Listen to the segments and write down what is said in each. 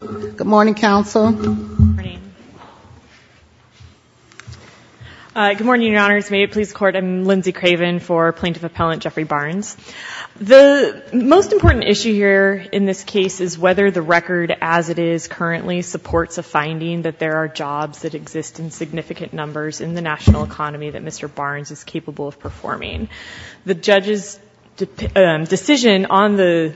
Good morning, Council. Good morning, Your Honors. May it please the Court, I'm Lindsay Craven for Plaintiff Appellant Jeffrey Barnes. The most important issue here in this case is whether the record as it is currently supports a finding that there are jobs that exist in significant numbers in the national economy that Mr. Barnes is capable of performing. The judge's decision on the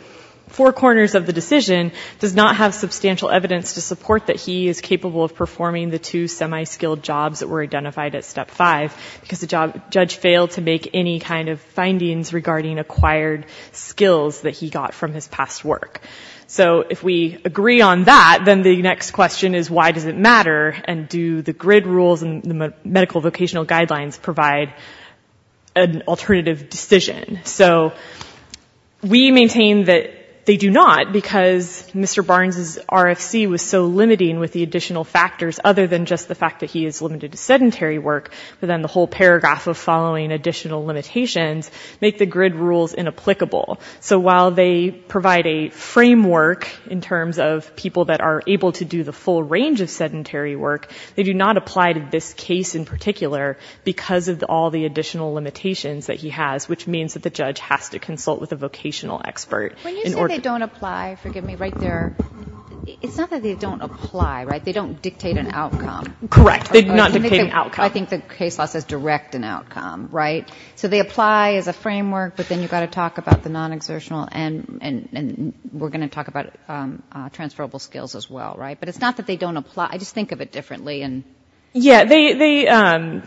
four corners of the decision does not have substantial evidence to support that he is capable of performing the two semi-skilled jobs that were identified at step five because the judge failed to make any kind of findings regarding acquired skills that he got from his past work. So if we agree on that then the next question is why does it matter and do the grid rules and the medical vocational guidelines provide an alternative decision? So we maintain that they do not because Mr. Barnes's RFC was so limiting with the additional factors other than just the fact that he is limited to sedentary work but then the whole paragraph of following additional limitations make the grid rules inapplicable. So while they provide a framework in terms of people that are able to do the full range of sedentary work, they do not apply to this case in particular because of all the additional limitations that he has which means that the judge has to consult with a vocational expert. When you say they don't apply, forgive me, right there, it's not that they don't apply, right? They don't dictate an outcome. Correct. They do not dictate an outcome. I think the case law says direct an outcome, right? So they apply as a framework but then you've got to talk about the non-exertional and we're going to talk about transferable skills as well, right? But it's not that they don't apply. I just think of it differently. Yeah,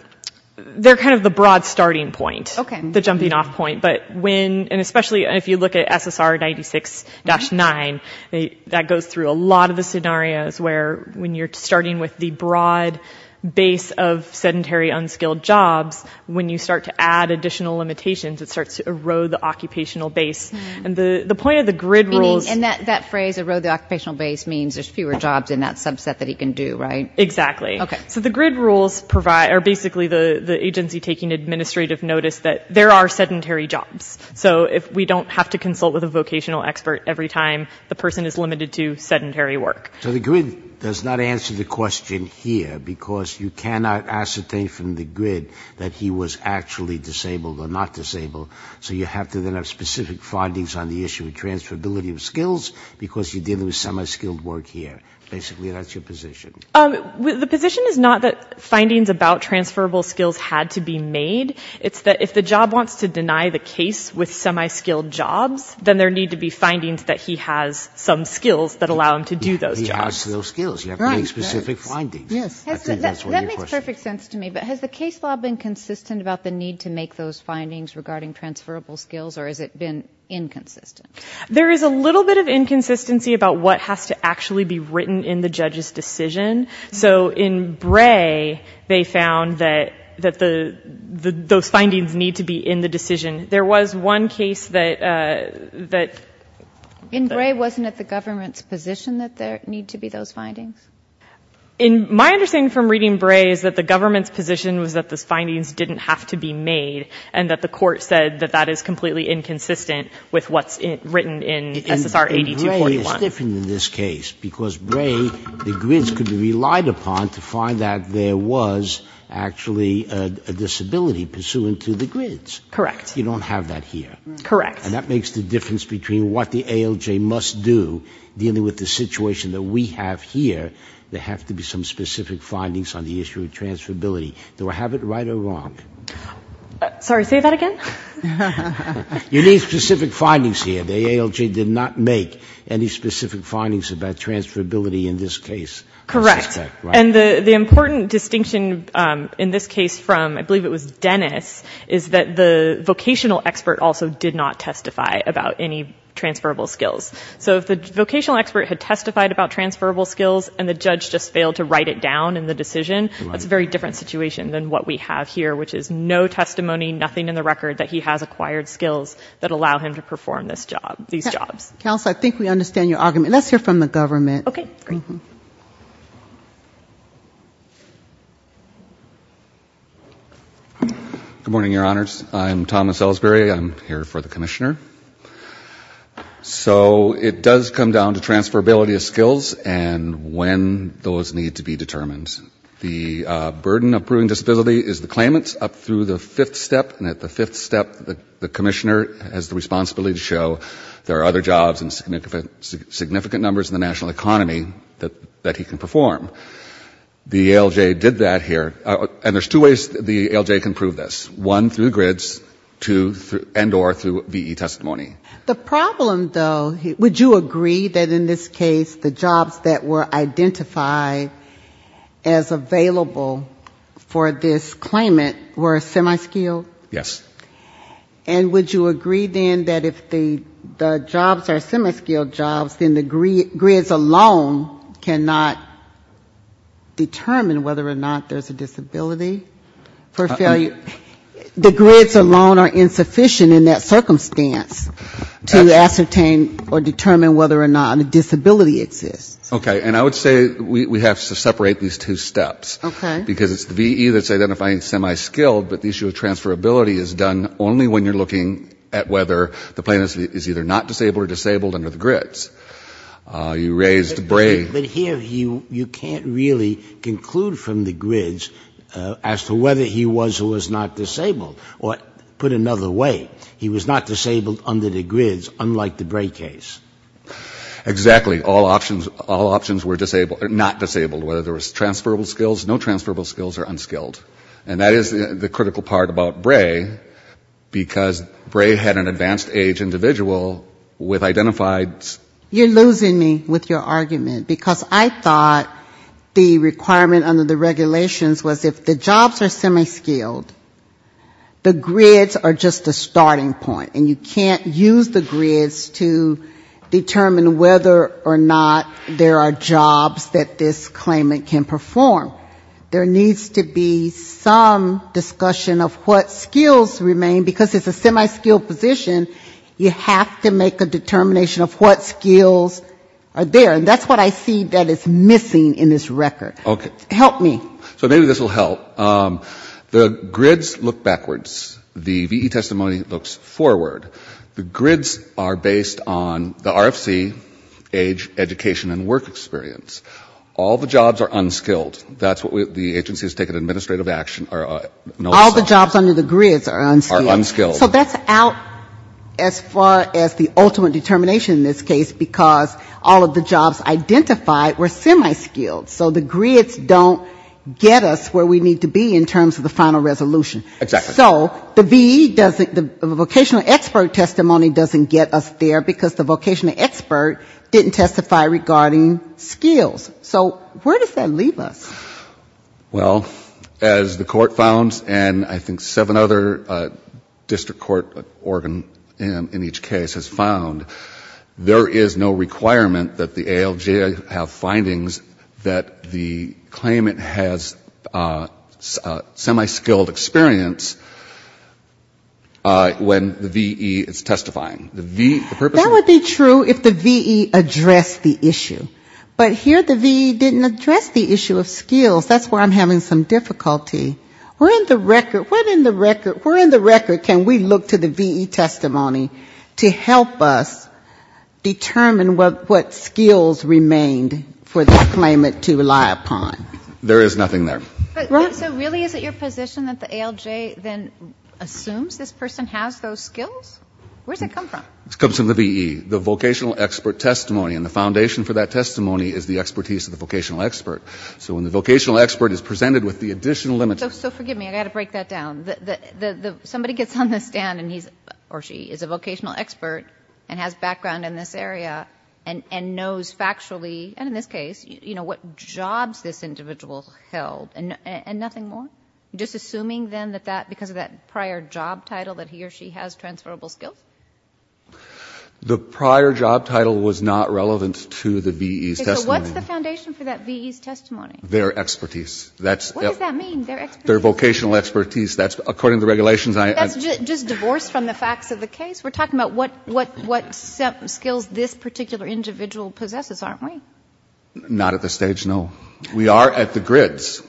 they're kind of the broad starting point, the jumping off point. But when, and especially if you look at SSR 96-9, that goes through a lot of the scenarios where when you're starting with the broad base of sedentary unskilled jobs, when you start to add additional limitations, it starts to erode the occupational base. And the point of the grid rules... Meaning, in that phrase, erode the occupational base means there's fewer jobs in that subset that he can do, right? Exactly. So the grid rules provide, or basically the agency taking administrative notice that there are sedentary jobs. So if we don't have to consult with a vocational expert every time, the person is limited to sedentary work. So the grid does not answer the question here because you cannot ascertain from the grid that he was actually disabled or not disabled. So you have to then have specific findings on the issue of transferability of skills because you're dealing with semi-skilled work here. Basically, that's your position. The position is not that findings about transferable skills had to be made. It's that if the job wants to deny the case with semi-skilled jobs, then there need to be findings that he has some skills that allow him to do those jobs. He has those skills. You have to make specific findings. Yes. That makes perfect sense to me. But has the case law been consistent about the need to make those findings regarding transferable skills, or has it been inconsistent? There is a little bit of inconsistency about what has to actually be written in the judge's decision. So in Bray, they found that those findings need to be in the decision. There was one case that... In Bray, wasn't it the government's position that there need to be those findings? My understanding from reading Bray is that the government's position was that those findings didn't have to be made and that the court said that that is completely inconsistent with what's written in SSR 8241. That's different in this case, because Bray, the grids could be relied upon to find that there was actually a disability pursuant to the grids. Correct. You don't have that here. Correct. And that makes the difference between what the ALJ must do dealing with the situation that we have here. There have to be some specific findings on the issue of transferability. Do I have it right or wrong? Sorry, say that again? You need specific findings here. The ALJ did not make any specific findings about transferability in this case. Correct. And the important distinction in this case from, I believe it was Dennis, is that the vocational expert also did not testify about any transferable skills. So if the vocational expert had testified about transferable skills and the judge just failed to write it down in the decision, that's a very different situation than what we have here, which is no testimony, nothing in the record, that he has acquired skills that allow him to perform this job, these jobs. Counsel, I think we understand your argument. Let's hear from the government. Okay, great. Good morning, Your Honors. I'm Thomas Ellsbury. I'm here for the Commissioner. So it does come down to transferability of skills and when those need to be determined. The burden of proving disability is the claimant up through the fifth step. The Commissioner has the responsibility to show there are other jobs in significant numbers in the national economy that he can perform. The ALJ did that here. And there's two ways the ALJ can prove this. One, through the grids. Two, and or through V.E. testimony. The problem, though, would you agree that in this case the jobs that were identified as available for this claimant were semi-skilled? Yes. And would you agree, then, that if the jobs are semi-skilled jobs, then the grids alone cannot determine whether or not there's a disability for failure? The grids alone are insufficient in that circumstance to ascertain or determine whether or not a disability exists. Okay. And I would say we have to separate these two steps. Okay. Because it's V.E. that's identifying semi-skilled, but the issue of transferability is done only when you're looking at whether the claimant is either not disabled or disabled under the grids. You raised Bray. But here you can't really conclude from the grids as to whether he was or was not disabled. Or put another way, he was not disabled under the grids, unlike the Bray case. Exactly. All options were not disabled. Whether there was transferable skills, no transferable skills or unskilled. And that is the critical part about Bray, because Bray had an advanced age individual with identified You're losing me with your argument. Because I thought the requirement under the regulations was if the jobs are semi-skilled, the grids are just a way to determine whether or not there are jobs that this claimant can perform. There needs to be some discussion of what skills remain, because it's a semi-skilled position, you have to make a determination of what skills are there. And that's what I see that is missing in this record. Okay. Help me. So maybe this will help. The grids look backwards. The V.E. testimony looks forward. The grids are based on the RFC age, education and work experience. All the jobs are unskilled. That's what the agency has taken administrative action. All the jobs under the grids are unskilled. So that's out as far as the ultimate determination in this case, because all of the jobs identified were semi-skilled. So the grids don't get us where we need to be in terms of the final resolution. Exactly. So the V.E. doesn't, the vocational expert testimony doesn't get us there because the vocational expert didn't testify regarding skills. So where does that leave us? Well, as the court founds, and I think seven other district court organ in each case has found, there is no requirement that the ALJ have findings that the claimant has semi-skilled experience when the V.E. is testifying. That would be true if the V.E. addressed the issue. But here the V.E. didn't address the issue of skills. That's where I'm having some difficulty. We're in the record, can we look to the V.E. testimony to help us determine what skills remained for this claimant to rely upon. There is nothing there. So really is it your position that the ALJ then assumes this person has those skills? Where does it come from? It comes from the V.E. The vocational expert testimony. And the foundation for that testimony is the expertise of the vocational expert. So when the vocational expert is presented with the additional limitations. So forgive me, I've got to break that down. Somebody gets on the stand and he or she is a vocational expert and has background in this area and knows factually, and in this case, you know, what jobs this individual held and nothing more? Just assuming then that because of that prior job title that he or she has transferable skills? The prior job title was not relevant to the V.E.'s testimony. Okay. So what's the foundation for that V.E.'s testimony? Their expertise. What does that mean, their expertise? Their vocational expertise. That's according to the regulations. That's just divorced from the facts of the case? We're talking about what skills this particular individual possesses, aren't we? Not at this stage, no. We are at the grids.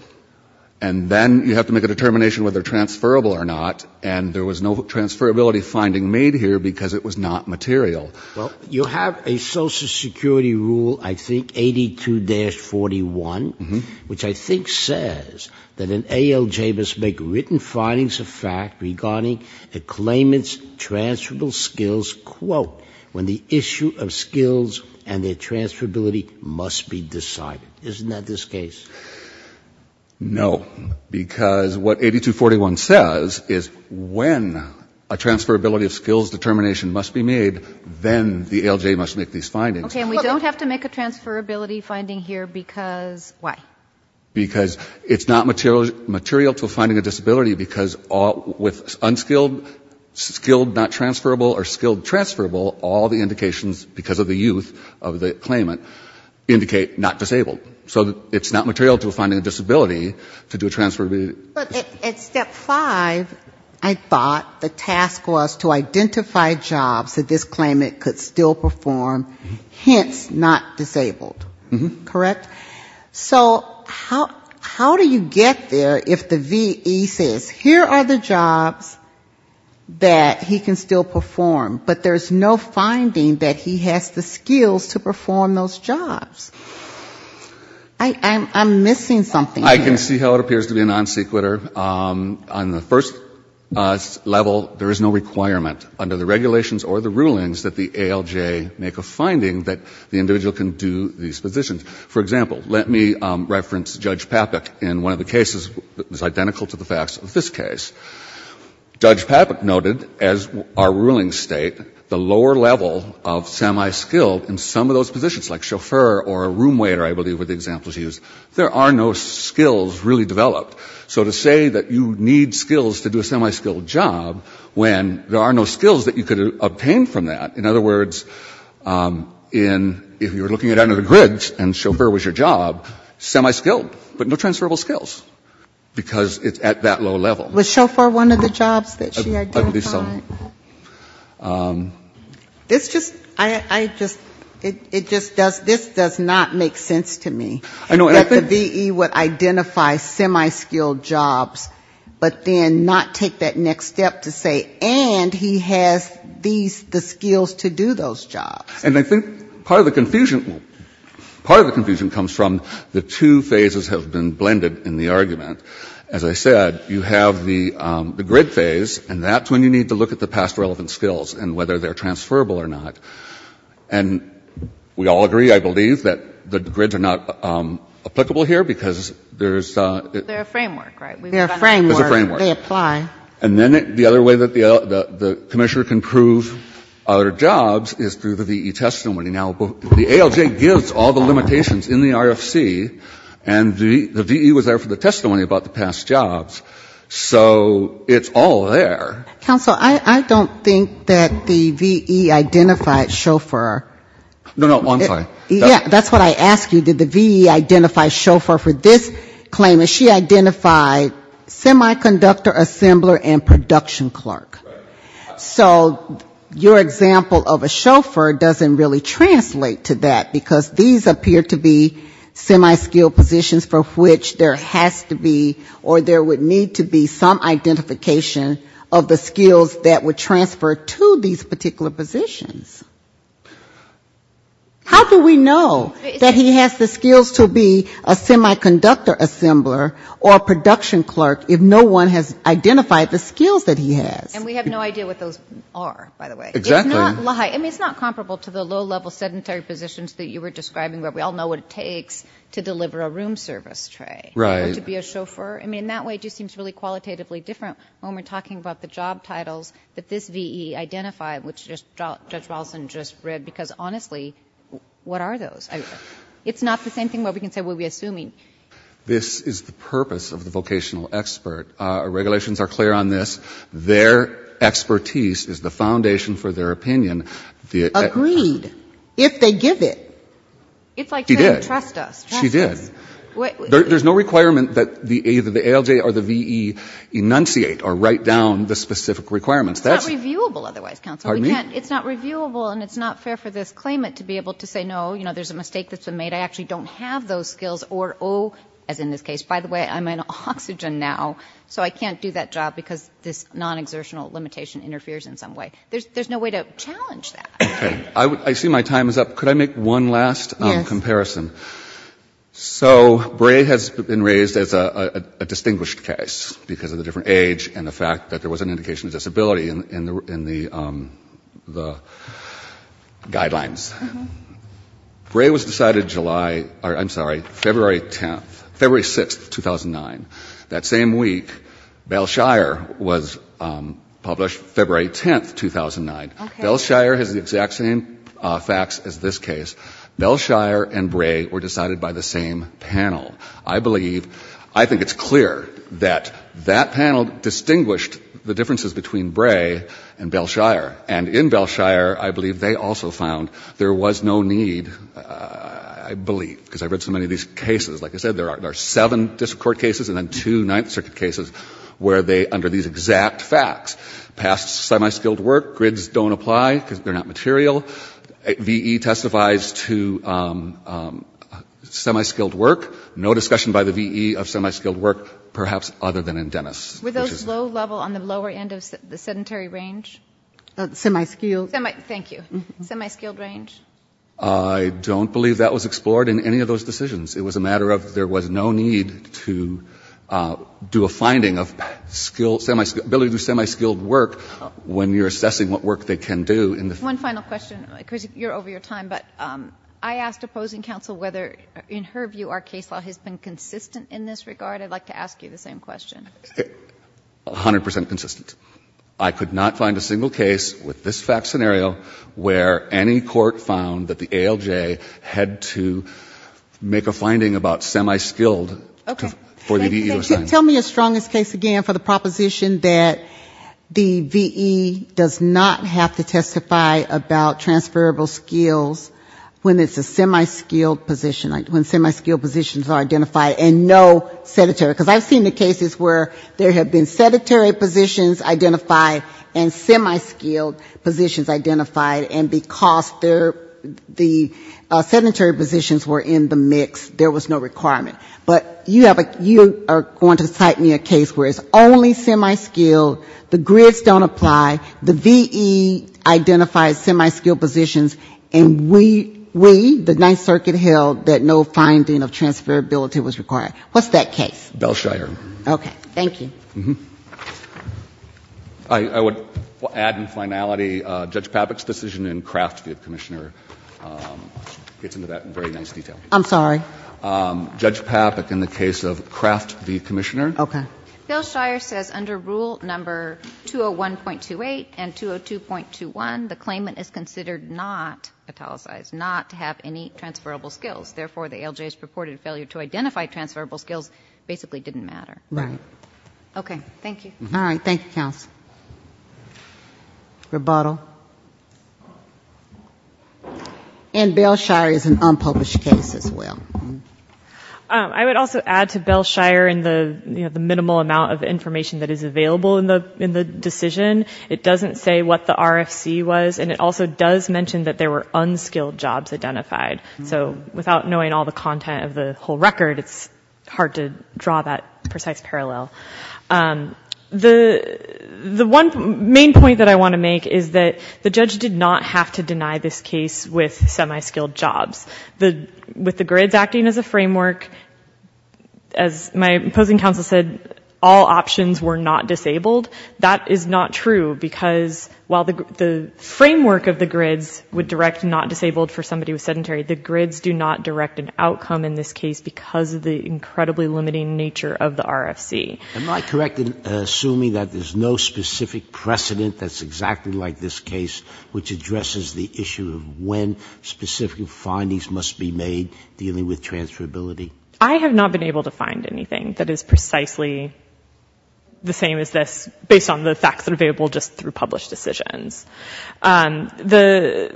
And then you have to make a determination whether transferable or not. And there was no transferability finding made here because it was not material. Well, you have a Social Security rule, I think, 82-41, which I think says that an individual must make a determination regarding a claimant's transferable skills, quote, when the issue of skills and their transferability must be decided. Isn't that this case? No. Because what 82-41 says is when a transferability of skills determination must be made, then the ALJ must make these findings. Okay. And we don't have to make a transferability finding here because why? Because it's not material to a finding of disability because with unskilled, skilled not transferable or skilled transferable, all the indications, because of the youth of the claimant, indicate not disabled. So it's not material to a finding of disability to do a transferability. But at step five, I thought the task was to identify jobs that this claimant could still perform, hence not disabled. Correct? So how do you get there if the VE says here are the jobs that he can still perform, but there's no finding that he has the skills to perform those jobs? I'm missing something here. I can see how it appears to be a non sequitur. On the first level, there is no requirement under the regulations or the rulings that the ALJ make a finding that the individual can do these positions. For example, let me reference Judge Papik in one of the cases that was identical to the facts of this case. Judge Papik noted, as our rulings state, the lower level of semi-skilled in some of those positions, like chauffeur or room waiter, I believe were the examples used, there are no skills really developed. So to say that you need skills to do a semi-skilled job when there are no skills that you could obtain from that, in other words, in, if you were looking at under the grids and chauffeur was your job, semi-skilled, but no transferable skills, because it's at that low level. Was chauffeur one of the jobs that she identified? At least some. This just, I just, it just does, this does not make sense to me. I know. That the V.E. would identify semi-skilled jobs, but then not take that next step to say, and he has these, the skills to do those jobs. And I think part of the confusion, part of the confusion comes from the two phases have been blended in the argument. As I said, you have the grid phase, and that's when you need to look at the past relevant skills and whether they're transferable or not. And we all agree, I believe, that the grids are not applicable here, because there's a... They're a framework, right? They're a framework. There's a framework. They apply. And then the other way that the commissioner can prove other jobs is through the V.E. testimony. Now, the ALJ gives all the limitations in the RFC, and the V.E. was there for the testimony about the past jobs. So it's all there. Counsel, I don't think that the V.E. identified chauffeur. No, no, I'm sorry. Yeah, that's what I asked you. Did the V.E. identify chauffeur for this claim? And she identified semiconductor assembler and production clerk. So your example of a chauffeur doesn't really translate to that, because these appear to be semi-skilled positions for which there has to be or there would need to be some identification of the skills that were transferred to these particular positions. How do we know that he has the skills to be a semiconductor assembler or a production clerk if no one has identified the skills that he has? And we have no idea what those are, by the way. Exactly. It's not comparable to the low-level sedentary positions that you were talking about. It's really qualitatively different when we're talking about the job titles that this V.E. identified, which Judge Walson just read, because honestly, what are those? It's not the same thing where we can say, well, we're assuming. This is the purpose of the vocational expert. Our regulations are clear on this. Their expertise is the foundation for their opinion. Agreed, if they give it. She did. It's like saying, trust us. She did. There's no requirement that either the ALJ or the V.E. enunciate or write down the specific requirements. It's not reviewable otherwise, counsel. Pardon me? It's not reviewable, and it's not fair for this claimant to be able to say, no, there's a mistake that's been made. I actually don't have those skills or O, as in this case. By the way, I'm in oxygen now, so I can't do that job because this non-exertional limitation interferes in some way. There's no way to challenge that. I see my time is up. Could I make one last comparison? Yes. So, Bray has been raised as a distinguished case because of the different age and the fact that there was an indication of disability in the guidelines. Bray was decided February 6th, 2009. That same week, Belshire was published February 10th, 2009. Belshire has the exact same facts as this case. Belshire and Bray were decided by the same panel. I believe, I think it's clear that that panel distinguished the differences between Bray and Belshire. And in Belshire, I believe they also found there was no need, I believe, because I've read so many of these cases. Like I said, there are seven district court cases and then two Ninth Circuit cases where they, under these exact facts, passed semi-skilled work, grids don't apply because they're not material. VE testifies to semi-skilled work. No discussion by the VE of semi-skilled work, perhaps other than in Dennis. Were those low level on the lower end of the sedentary range? Semi-skilled. Thank you. Semi-skilled range? I don't believe that was explored in any of those decisions. It was a matter of there was no need to do a finding of ability to do semi-skilled work when you're assessing what work they can do. One final question. Chris, you're over your time, but I asked opposing counsel whether, in her view, our case law has been consistent in this regard. I'd like to ask you the same question. A hundred percent consistent. I could not find a single case with this fact scenario where any court found that the ALJ had to make a finding about semi-skilled for the VE to assign. Tell me a strongest case again for the proposition that the VE does not have to testify about transferable skills when it's a semi-skilled position, like when semi-skilled positions are identified and no sedentary. Because I've seen the cases where there have been sedentary positions identified and semi-skilled positions identified, and because the sedentary positions were in the mix, there was no requirement. But you are going to cite me a case where it's only semi-skilled, the VE identifies semi-skilled positions, and we, the Ninth Circuit, held that no finding of transferability was required. What's that case? Belshire. Okay. Thank you. I would add in finality Judge Papik's decision in Craft v. Commissioner gets into that in very nice detail. I'm sorry? Judge Papik in the case of Craft v. Commissioner. Okay. Belshire says under Rule No. 201.28 and 202.21, the claimant is considered not italicized, not to have any transferable skills. Therefore, the ALJ's purported failure to identify transferable skills basically didn't matter. Right. Okay. Thank you. All right. Thank you, counsel. Rebuttal. And Belshire is an unpublished case as well. I would also add to Belshire in the minimal amount of information that is available in the decision. It doesn't say what the RFC was, and it also does mention that there were unskilled jobs identified. So without knowing all the content of the whole record, it's hard to draw that precise parallel. The one main point that I want to make is that the judge did not have to deny this case with semi-skilled jobs. With the grids acting as a framework, as my opposing counsel said, all options were not disabled. That is not true, because while the framework of the grids would direct not disabled for somebody who was sedentary, the grids do not direct an outcome in this case because of the incredibly limiting nature of the RFC. Am I correct in assuming that there's no specific precedent that's exactly like this case, which addresses the issue of when specific findings must be made dealing with transferability? I have not been able to find anything that is precisely the same as this based on the facts that are available just through published decisions. So the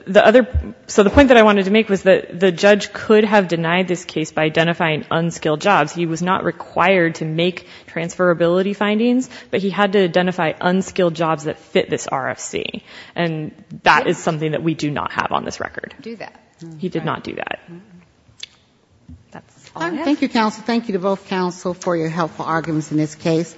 point that I wanted to make was that the judge could have denied this case by identifying unskilled jobs. He was not required to make transferability findings, but he had to do that. He did not do that. That's all I have. Thank you, counsel. Thank you to both counsel for your helpful arguments in this case.